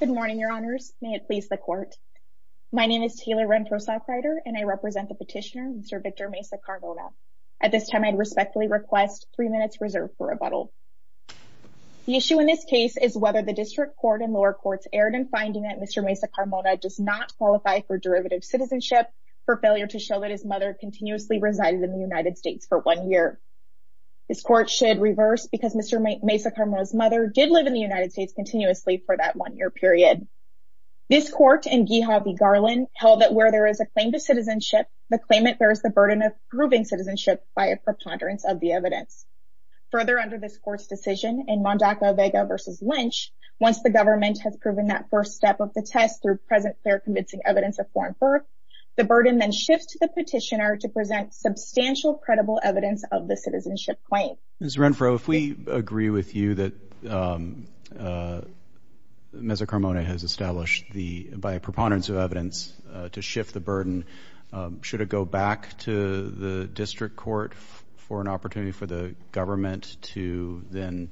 Good morning, your honors. May it please the court. My name is Taylor Rentrosoff-Ryder, and I represent the petitioner, Mr. Victor Meza-Carmona. At this time, I'd respectfully request three minutes reserved for rebuttal. The issue in this case is whether the district court and lower courts erred in finding that Mr. Meza-Carmona does not qualify for derivative citizenship for failure to show that his mother continuously resided in the United States for one year. This court should reverse because Mr. Meza-Carmona's mother did live in the United States continuously for that one year period. This court in Guija v. Garland held that where there is a claim to citizenship, the claimant bears the burden of proving citizenship by a preponderance of the evidence. Further, under this court's decision in Mondacco-Vega v. Lynch, once the government has proven that first step of the test through presently convincing evidence of foreign birth, the burden then shifts to the petitioner to present substantial credible evidence of the citizenship claim. Ms. Rentrosoff-Ryder, if we agree with you that Mr. Meza-Carmona has established by a preponderance of evidence to shift the burden, should it go back to the district court for an opportunity for the government to then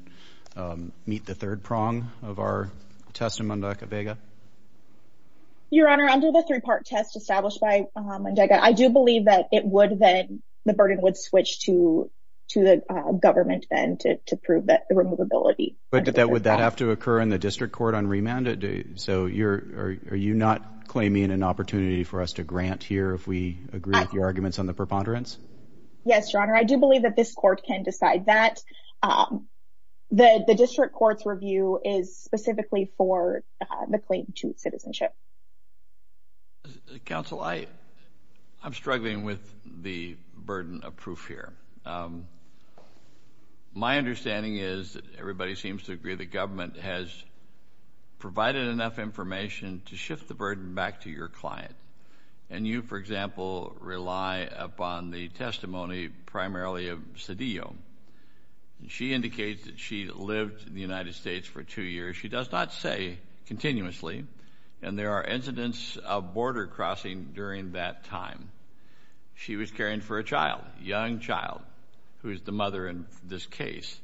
meet the third prong of our test in Mondacco-Vega? Your Honor, under the three-part test established by Mondacco-Vega, I do believe that the burden would switch to the government then to prove the removability. But would that have to occur in the district court on remand? Are you not claiming an opportunity for us to grant here if we agree with your arguments on the preponderance? Yes, Your Honor. I do believe that this court can decide that. The district court's review is specifically for the claim to citizenship. Counsel, I'm struggling with the burden of proof here. My understanding is that everybody seems to agree the government has provided enough information to shift the burden back to your client. And you, for example, rely upon the testimony primarily of Cedillo. She indicates that she lived in the United States for two years. She does not say continuously, and there are incidents of border crossing during that time. She was caring for a child, a young child, who is the mother in this case.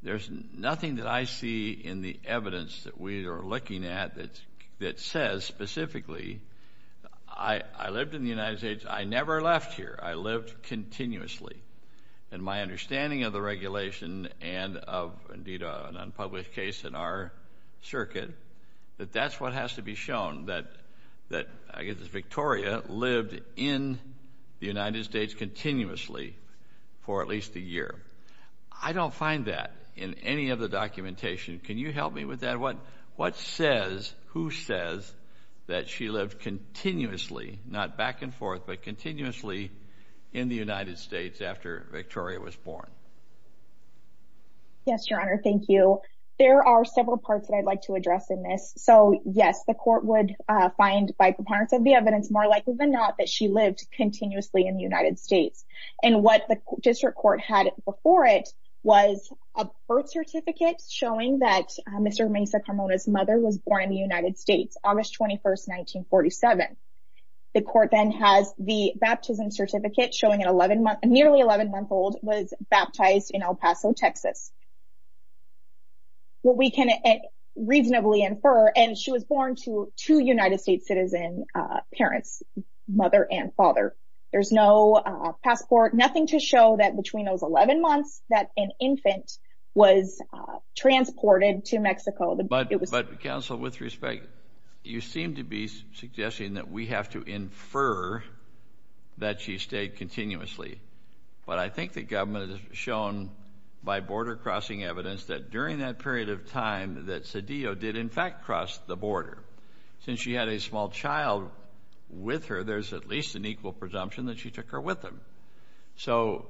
There's nothing that I see in the evidence that we are looking at that says specifically, I lived in the United States. I never left here. I lived continuously. And my understanding of the regulation and of, indeed, an unpublished case in our circuit, that that's what has to be shown, that Victoria lived in the United States continuously for at least a year. I don't find that in any of the documentation. Can you help me with that? What says, who says that she lived continuously, not back and forth, but continuously in the United States after Victoria was born? Yes, Your Honor. Thank you. So, there are several parts that I'd like to address in this. So, yes, the court would find by preponderance of the evidence, more likely than not, that she lived continuously in the United States. And what the district court had before it was a birth certificate showing that Mr. Mesa Carmona's mother was born in the United States, August 21, 1947. The court then has the baptism certificate showing a nearly 11-month-old was baptized in El Paso, Texas. What we can reasonably infer, and she was born to two United States citizen parents, mother and father. There's no passport, nothing to show that between those 11 months that an infant was transported to Mexico. But, counsel, with respect, you seem to be suggesting that we have to infer that she stayed continuously. But I think the government has shown by border-crossing evidence that during that period of time that Cedillo did, in fact, cross the border. Since she had a small child with her, there's at least an equal presumption that she took her with them. So,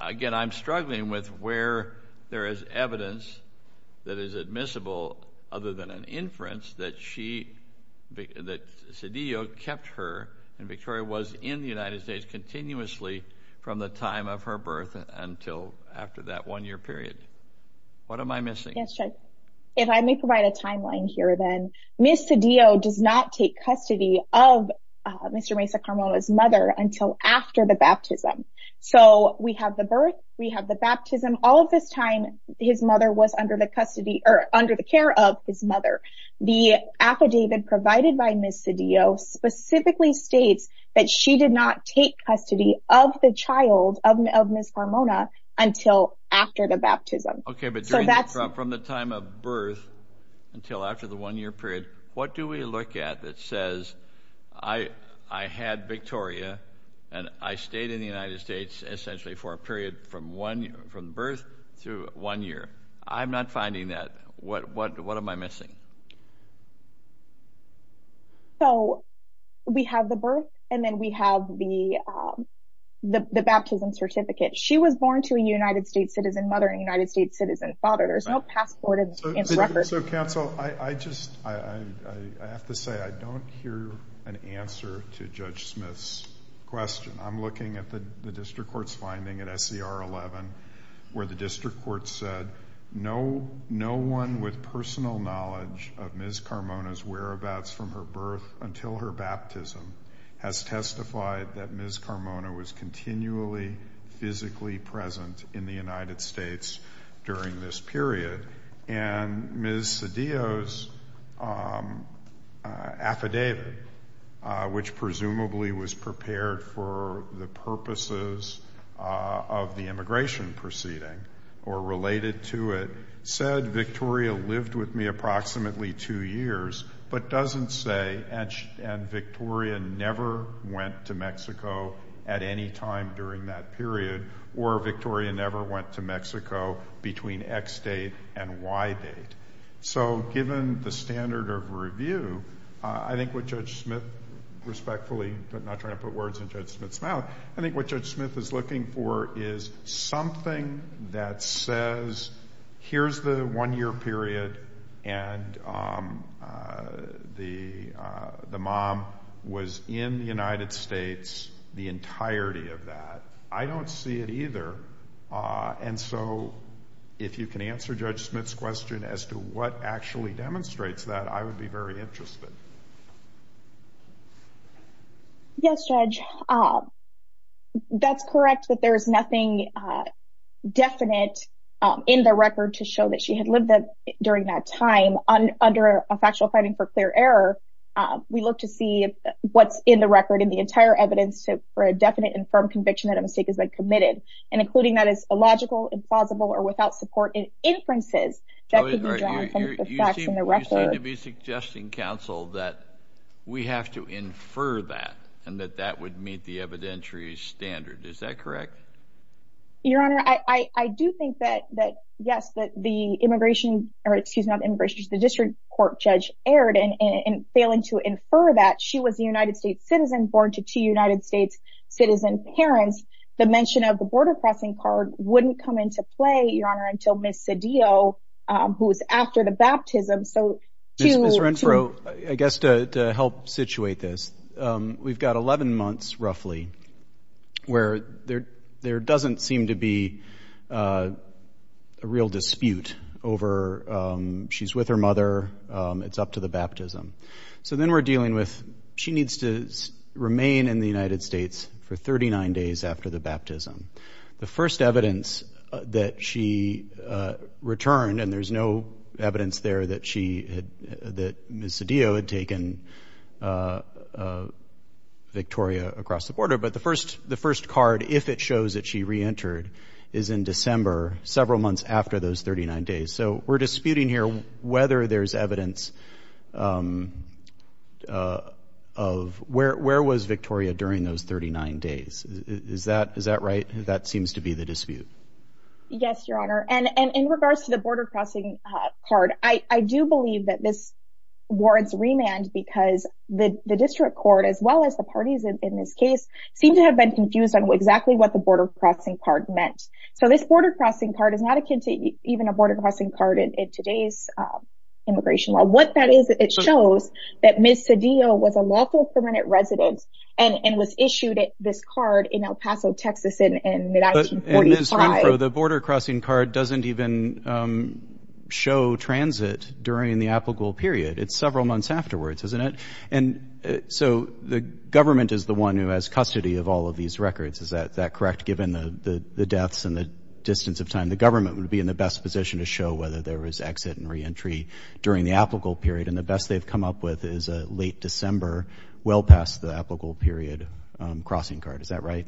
again, I'm struggling with where there is evidence that is admissible, other than an inference, that Cedillo kept her, and Victoria was in the United States, continuously from the time of her birth until after that one-year period. What am I missing? Yes, Judge. If I may provide a timeline here, then. Ms. Cedillo does not take custody of Mr. Mesa Carmona's mother until after the baptism. So, we have the birth, we have the baptism, all of this time his mother was under the custody, or under the care of his mother. The affidavit provided by Ms. Cedillo specifically states that she did not take custody of the child of Ms. Carmona until after the baptism. Okay, but from the time of birth until after the one-year period, what do we look at that says, I had Victoria, and I stayed in the United States essentially for a period from birth through one year. I'm not finding that. What am I missing? So, we have the birth, and then we have the baptism certificate. She was born to a United States citizen mother and a United States citizen father. There's no passport in this record. So, counsel, I have to say I don't hear an answer to Judge Smith's question. I'm looking at the district court's finding at SCR 11 where the district court said, no one with personal knowledge of Ms. Carmona's whereabouts from her birth until her baptism has testified that Ms. Carmona was continually physically present in the United States during this period. And Ms. Cedillo's affidavit, which presumably was prepared for the purposes of the immigration proceeding or related to it, said Victoria lived with me approximately two years, but doesn't say, and Victoria never went to Mexico at any time during that period, or Victoria never went to Mexico between X date and Y date. So, given the standard of review, I think what Judge Smith respectfully, I'm not trying to put words in Judge Smith's mouth, I think what Judge Smith is looking for is something that says, here's the one-year period and the mom was in the United States the entirety of that. I don't see it either. And so, if you can answer Judge Smith's question as to what actually demonstrates that, I would be very interested. Yes, Judge. That's correct that there is nothing definite in the record to show that she had lived during that time. Under a factual finding for clear error, we look to see what's in the record in the entire evidence for a definite and firm conviction that a mistake has been committed, and including that as illogical, implausible, or without support in inferences. You seem to be suggesting, counsel, that we have to infer that and that that would meet the evidentiary standard. Is that correct? Your Honor, I do think that, yes, that the district court judge erred in failing to infer that she was a United States citizen born to two United States citizen parents. The mention of the border crossing card wouldn't come into play, Your Honor, until Ms. Cedillo, who was after the baptism. Ms. Renfro, I guess to help situate this, we've got 11 months, roughly, where there doesn't seem to be a real dispute over she's with her mother, it's up to the baptism. So then we're dealing with she needs to remain in the United States for 39 days after the baptism. The first evidence that she returned, and there's no evidence there that Ms. Cedillo had taken Victoria across the border, but the first card, if it shows that she reentered, is in December, several months after those 39 days. So we're disputing here whether there's evidence of where was Victoria during those 39 days. Is that right? That seems to be the dispute. Yes, Your Honor, and in regards to the border crossing card, I do believe that this warrants remand because the district court, as well as the parties in this case, seem to have been confused on exactly what the border crossing card meant. So this border crossing card is not akin to even a border crossing card in today's immigration law. What that is, it shows that Ms. Cedillo was a local permanent resident and was issued this card in El Paso, Texas in 1945. But Ms. Renfro, the border crossing card doesn't even show transit during the apical period. It's several months afterwards, isn't it? And so the government is the one who has custody of all of these records. Is that correct? Given the deaths and the distance of time, the government would be in the best position to show whether there was exit and reentry during the apical period. And the best they've come up with is a late December, well past the apical period, crossing card. Is that right?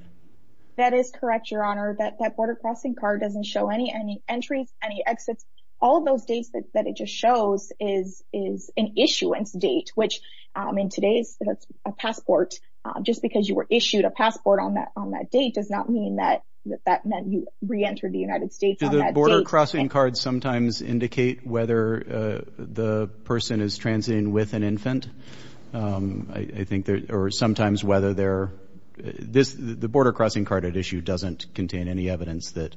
That is correct, Your Honor. That border crossing card doesn't show any entries, any exits. All of those dates that it just shows is an issuance date, which in today's passport, just because you were issued a passport on that date does not mean that that meant you reentered the United States on that date. Do the border crossing cards sometimes indicate whether the person is transiting with an infant? I think there are sometimes whether they're... The border crossing card at issue doesn't contain any evidence that,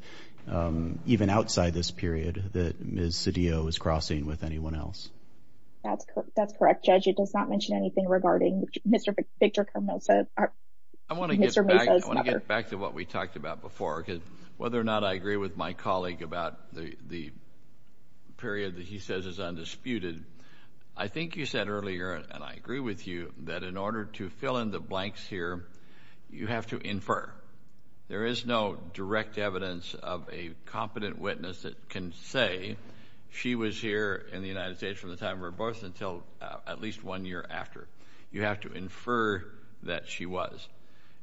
even outside this period, that Ms. Cedillo was crossing with anyone else. That's correct, Judge. It does not mention anything regarding Mr. Victor Carmosa, Mr. Mesa's mother. I want to get back to what we talked about before, because whether or not I agree with my colleague about the period that he says is undisputed, I think you said earlier, and I agree with you, that in order to fill in the blanks here, you have to infer. There is no direct evidence of a competent witness that can say she was here in the United States from the time of her birth until at least one year after. You have to infer that she was.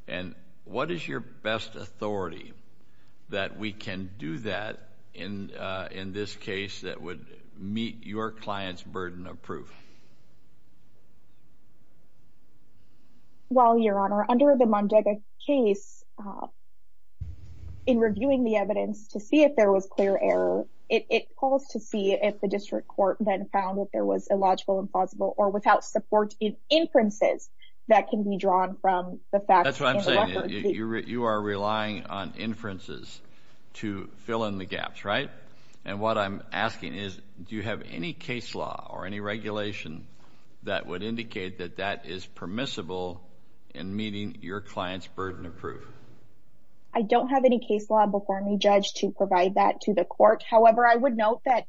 And what is your best authority that we can do that in this case that would meet your client's burden of proof? Well, Your Honor, under the Mondega case, in reviewing the evidence to see if there was clear error, it calls to see if the district court then found that there was illogical, impossible, or without support in inferences that can be drawn from the facts. That's what I'm saying. You are relying on inferences to fill in the gaps, right? And what I'm asking is do you have any case law or any regulation that would indicate that that is permissible in meeting your client's burden of proof? I don't have any case law before me, Judge, to provide that to the court. However, I would note that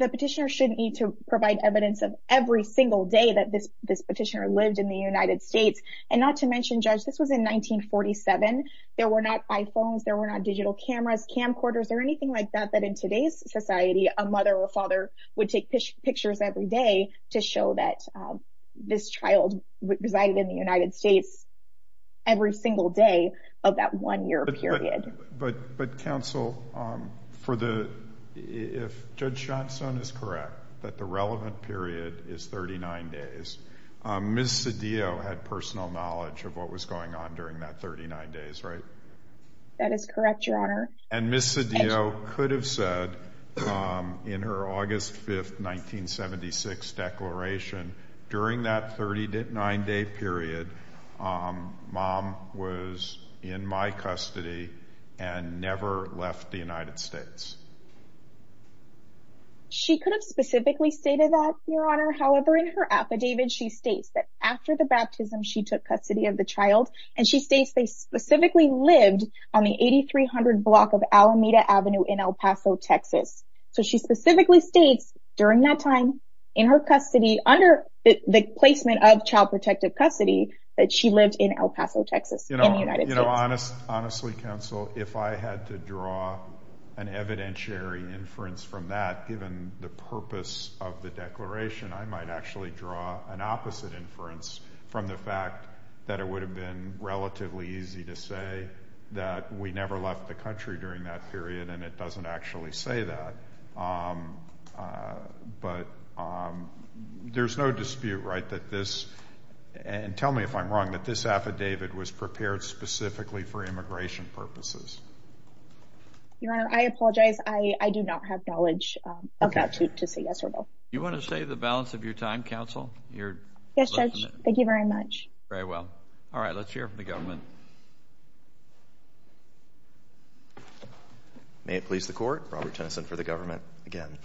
the petitioner shouldn't need to provide evidence of every single day that this petitioner lived in the United States. And not to mention, Judge, this was in 1947. There were not iPhones. There were not digital cameras, camcorders, or anything like that that in today's society a mother or father would take pictures every day to show that this child resided in the United States every single day of that one-year period. But, Counsel, if Judge Johnstone is correct that the relevant period is 39 days, Ms. Cedillo had personal knowledge of what was going on during that 39 days, right? That is correct, Your Honor. And Ms. Cedillo could have said in her August 5, 1976 declaration, during that 39-day period, Mom was in my custody and never left the United States. She could have specifically stated that, Your Honor. However, in her affidavit, she states that after the baptism, she took custody of the child, and she states they specifically lived on the 8300 block of Alameda Avenue in El Paso, Texas. So she specifically states during that time in her custody, under the placement of child protective custody, that she lived in El Paso, Texas in the United States. Honestly, Counsel, if I had to draw an evidentiary inference from that, given the purpose of the declaration, I might actually draw an opposite inference from the fact that it would have been relatively easy to say that we never left the country during that period, and it doesn't actually say that. But there's no dispute, right, that this, and tell me if I'm wrong, that this affidavit was prepared specifically for immigration purposes. Your Honor, I apologize. I do not have knowledge of that to say yes or no. Do you want to say the balance of your time, Counsel? Yes, Judge. Thank you very much. Very well. All right. Let's hear from the government. May it please the Court. Robert Tennyson for the government again.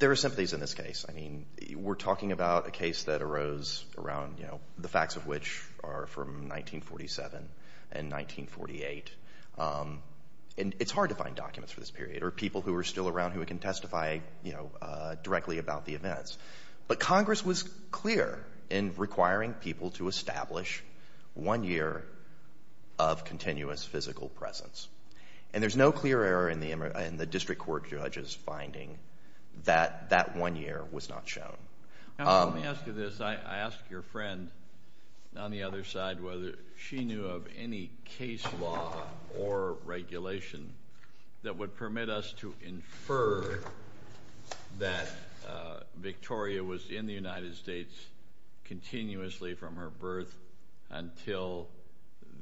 There are sympathies in this case. I mean, we're talking about a case that arose around, you know, the facts of which are from 1947 and 1948. And it's hard to find documents for this period or people who are still around who can testify, you know, directly about the events. But Congress was clear in requiring people to establish one year of continuous physical presence. And there's no clear error in the district court judge's finding that that one year was not shown. Let me ask you this. I asked your friend on the other side whether she knew of any case law or regulation that would permit us to infer that Victoria was in the United States continuously from her birth until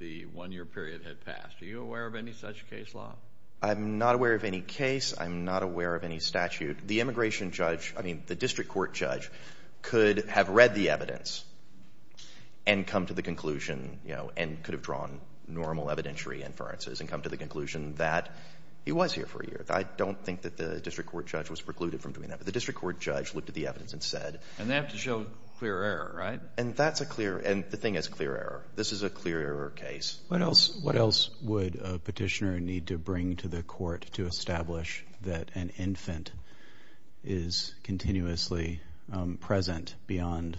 the one-year period had passed. Are you aware of any such case law? I'm not aware of any case. I'm not aware of any statute. The immigration judge, I mean, the district court judge could have read the evidence and come to the conclusion, you know, and could have drawn normal evidentiary inferences and come to the conclusion that he was here for a year. I don't think that the district court judge was precluded from doing that. But the district court judge looked at the evidence and said. And they have to show clear error, right? And that's a clear — and the thing is clear error. This is a clear error case. What else would a petitioner need to bring to the court to establish that an infant is continuously present beyond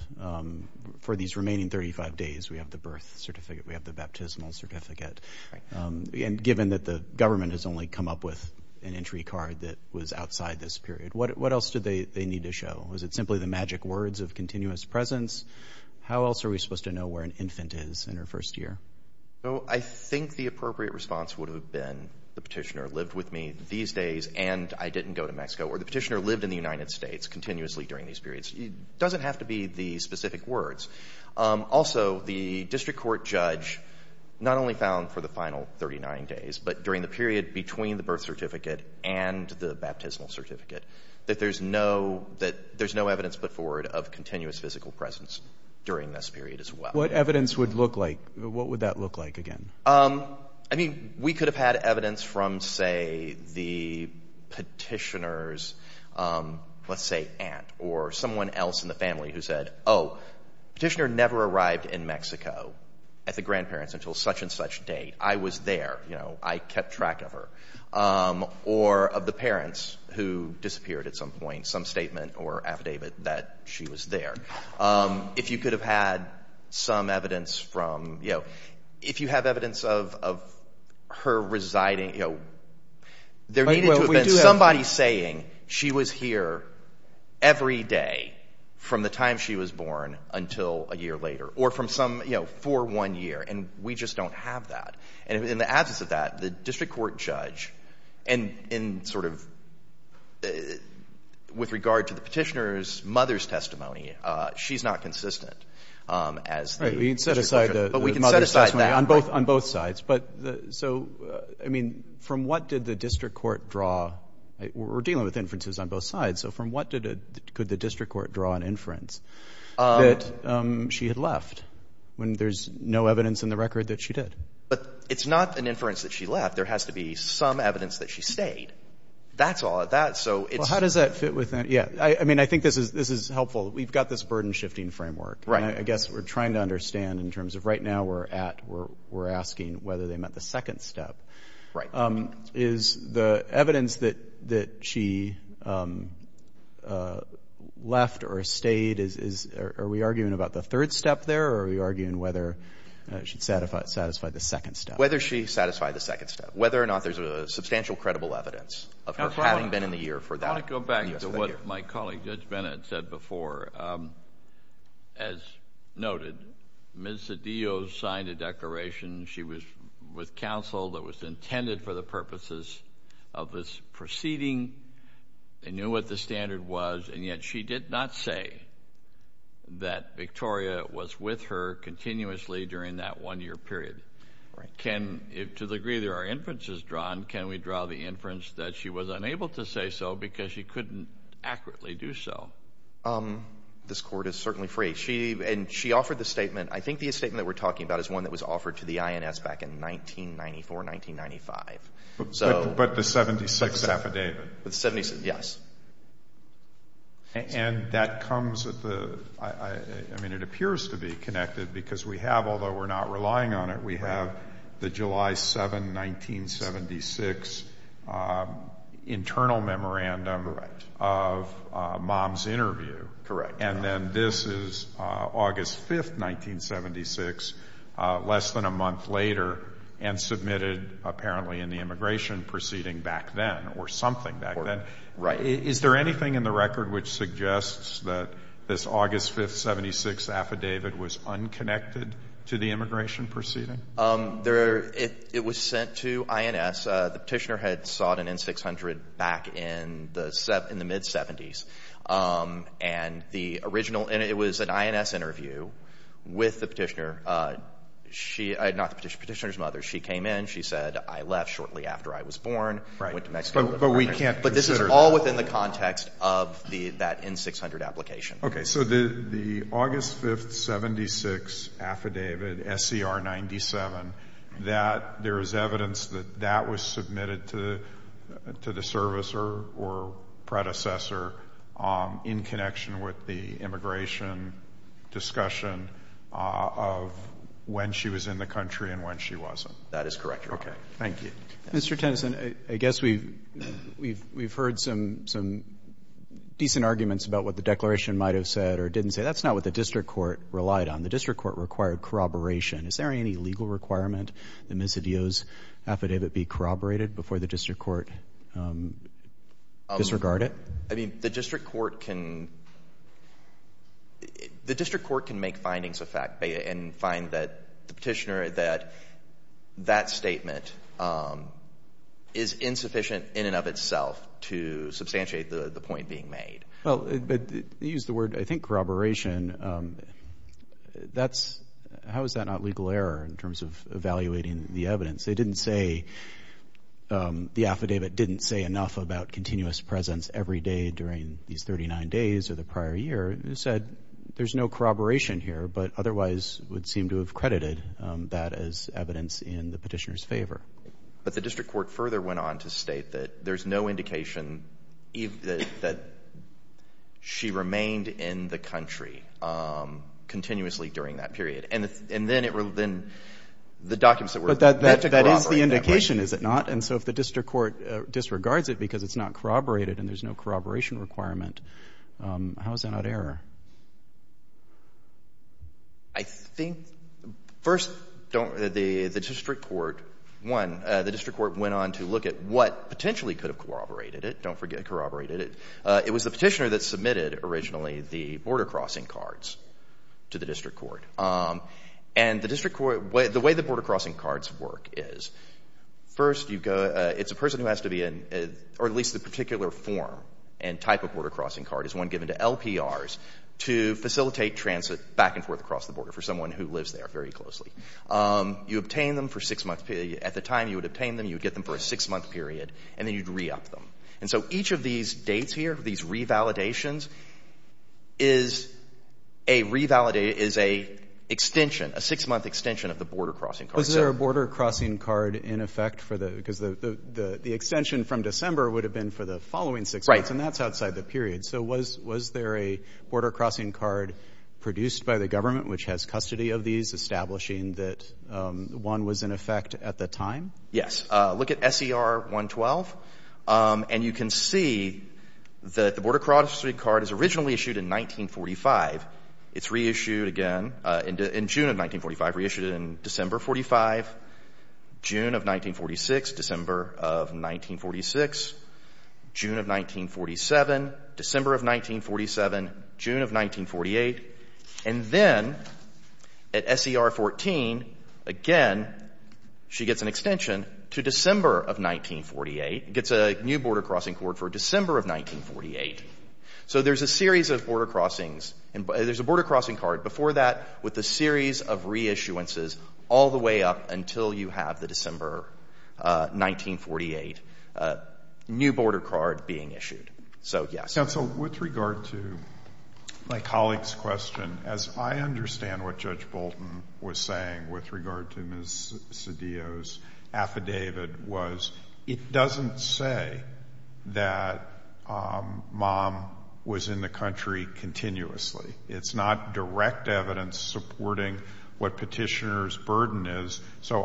— for these remaining 35 days, we have the birth certificate, we have the baptismal certificate. Right. And given that the government has only come up with an entry card that was outside this period, what else do they need to show? Was it simply the magic words of continuous presence? How else are we supposed to know where an infant is in her first year? So I think the appropriate response would have been the petitioner lived with me these days and I didn't go to Mexico. Or the petitioner lived in the United States continuously during these periods. It doesn't have to be the specific words. Also, the district court judge not only found for the final 39 days, but during the period between the birth certificate and the baptismal certificate, that there's no evidence put forward of continuous physical presence during this period as well. What evidence would look like? What would that look like again? I mean, we could have had evidence from, say, the petitioner's, let's say, aunt or someone else in the family who said, oh, petitioner never arrived in Mexico at the grandparents until such and such date. I was there. You know, I kept track of her. Or of the parents who disappeared at some point, some statement or affidavit that she was there. If you could have had some evidence from, you know, if you have evidence of her residing, you know, there needed to have been somebody saying she was here every day from the time she was born until a year later. Or from some, you know, for one year. And we just don't have that. And in the absence of that, the district court judge in sort of with regard to the petitioner's mother's testimony, she's not consistent as the district court judge. We can set aside the mother's testimony on both sides. But so, I mean, from what did the district court draw? We're dealing with inferences on both sides. So from what could the district court draw an inference that she had left when there's no evidence in the record that she did? But it's not an inference that she left. There has to be some evidence that she stayed. That's all. How does that fit with that? Yeah. I mean, I think this is helpful. We've got this burden-shifting framework. Right. I guess we're trying to understand in terms of right now we're at, we're asking whether they met the second step. Right. Is the evidence that she left or stayed, are we arguing about the third step there? Or are we arguing whether she satisfied the second step? Whether she satisfied the second step. Whether or not there's a substantial credible evidence of her having been in the year for that. I want to go back to what my colleague Judge Bennett said before. As noted, Ms. Zedillo signed a declaration. She was with counsel that was intended for the purposes of this proceeding. They knew what the standard was, and yet she did not say that Victoria was with her continuously during that one-year period. Right. To the degree there are inferences drawn, can we draw the inference that she was unable to say so because she couldn't accurately do so? This court is certainly free. And she offered the statement. I think the statement that we're talking about is one that was offered to the INS back in 1994, 1995. But the 76th affidavit. The 76th, yes. And that comes at the, I mean, it appears to be connected because we have, although we're not relying on it, we have the July 7, 1976 internal memorandum of mom's interview. Correct. And then this is August 5, 1976, less than a month later, and submitted apparently in the immigration proceeding back then or something back then. Right. Is there anything in the record which suggests that this August 5, 1976 affidavit was unconnected to the immigration proceeding? It was sent to INS. The petitioner had sought an N-600 back in the mid-'70s. And the original, and it was an INS interview with the petitioner. She, not the petitioner's mother, she came in, she said, I left shortly after I was born, went to Mexico. But we can't consider that. But this is all within the context of that N-600 application. Okay. So the August 5, 1976 affidavit, SCR 97, that there is evidence that that was submitted to the service or predecessor in connection with the immigration discussion of when she was in the country and when she wasn't. That is correct, Your Honor. Okay. Thank you. Mr. Tennyson, I guess we've heard some decent arguments about what the declaration might have said or didn't say. That's not what the district court relied on. The district court required corroboration. Is there any legal requirement that Ms. Adio's affidavit be corroborated before the district court disregarded it? I mean, the district court can make findings and find that the petitioner, that that statement is insufficient in and of itself to substantiate the point being made. Well, you used the word, I think, corroboration. How is that not legal error in terms of evaluating the evidence? They didn't say the affidavit didn't say enough about continuous presence every day during these 39 days or the prior year. They said there's no corroboration here, but otherwise would seem to have credited that as evidence in the petitioner's favor. But the district court further went on to state that there's no indication that she remained in the country continuously during that period. And then the documents that were there had to corroborate that. But that is the indication, is it not? And so if the district court disregards it because it's not corroborated and there's no corroboration requirement, how is that not error? I think first the district court went on to look at what potentially could have corroborated it. Don't forget it corroborated it. It was the petitioner that submitted originally the border crossing cards to the district court. And the way the border crossing cards work is first it's a person who has to be in or at least the particular form and type of border crossing card is one given to LPRs to facilitate transit back and forth across the border for someone who lives there very closely. You obtain them for a six-month period. At the time you would obtain them, you would get them for a six-month period, and then you'd re-up them. And so each of these dates here, these revalidations, is a six-month extension of the border crossing card. Because the extension from December would have been for the following six months, and that's outside the period. So was there a border crossing card produced by the government which has custody of these, establishing that one was in effect at the time? Yes. Look at SER 112, and you can see that the border crossing card is originally issued in 1945. It's reissued again in June of 1945, reissued in December of 45, June of 1946, December of 1946, June of 1947, December of 1947, June of 1948. And then at SER 14, again, she gets an extension to December of 1948. It gets a new border crossing card for December of 1948. So there's a series of border crossings. There's a border crossing card. Before that, with a series of reissuances all the way up until you have the December 1948 new border card being issued. So, yes. Counsel, with regard to my colleague's question, as I understand what Judge Bolton was saying with regard to Ms. Cedillo's affidavit, it doesn't say that mom was in the country continuously. It's not direct evidence supporting what petitioner's burden is. So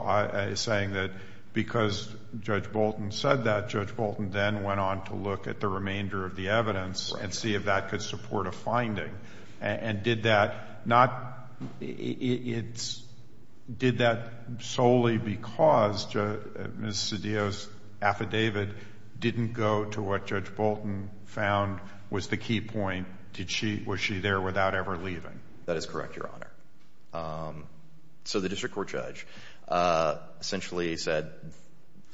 he's saying that because Judge Bolton said that, Judge Bolton then went on to look at the remainder of the evidence and see if that could support a finding. And did that solely because Ms. Cedillo's affidavit didn't go to what Judge Bolton found was the key point? Was she there without ever leaving? That is correct, Your Honor. So the district court judge essentially said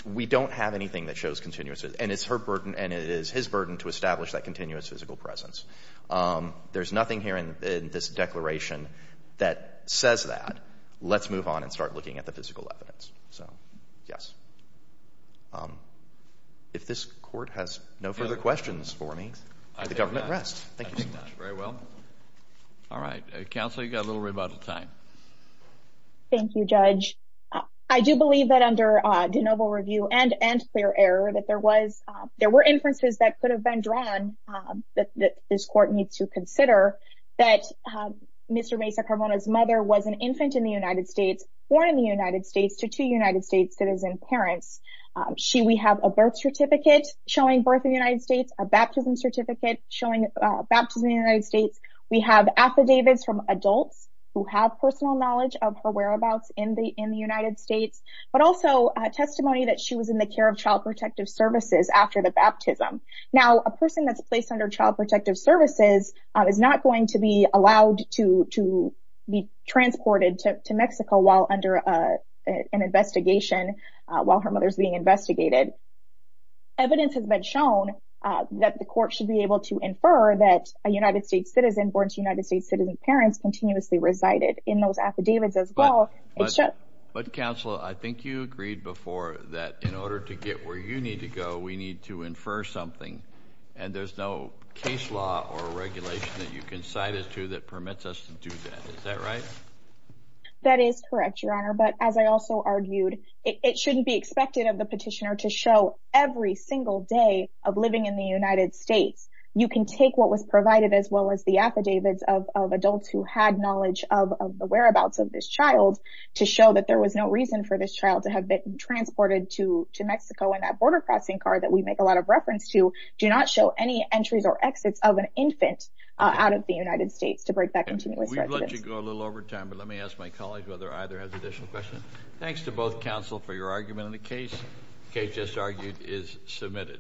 we don't have anything that shows continuous, and it's her burden and it is his burden to establish that continuous physical presence. There's nothing here in this declaration that says that. Let's move on and start looking at the physical evidence. So, yes. If this court has no further questions for me, the government rests. Thank you so much. Very well. All right. Counsel, you've got a little bit of time. Thank you, Judge. I do believe that under de novo review and clear error that there were inferences that could have been drawn that this court needs to consider that Mr. Mesa Carbona's mother was an infant in the United States, born in the United States to two United States citizen parents. We have a birth certificate showing birth in the United States, a baptism certificate showing baptism in the United States. We have affidavits from adults who have personal knowledge of her whereabouts in the United States, but also testimony that she was in the care of Child Protective Services after the baptism. Now, a person that's placed under Child Protective Services is not going to be allowed to be transported to Mexico while under an investigation while her mother is being investigated. Evidence has been shown that the court should be able to infer that a United States citizen, born to United States citizen parents, continuously resided in those affidavits as well. But, Counsel, I think you agreed before that in order to get where you need to go, we need to infer something, and there's no case law or regulation that you can cite us to that permits us to do that. Is that right? That is correct, Your Honor, but as I also argued, it shouldn't be expected of the petitioner to show every single day of living in the United States. You can take what was provided as well as the affidavits of adults who had knowledge of the whereabouts of this child to show that there was no reason for this child to have been transported to Mexico, and that border crossing card that we make a lot of reference to do not show any entries or exits of an infant out of the United States to break that continuous prejudice. We've let you go a little over time, but let me ask my colleague whether either has additional questions. Thanks to both counsel for your argument, and the case, Kate just argued, is submitted.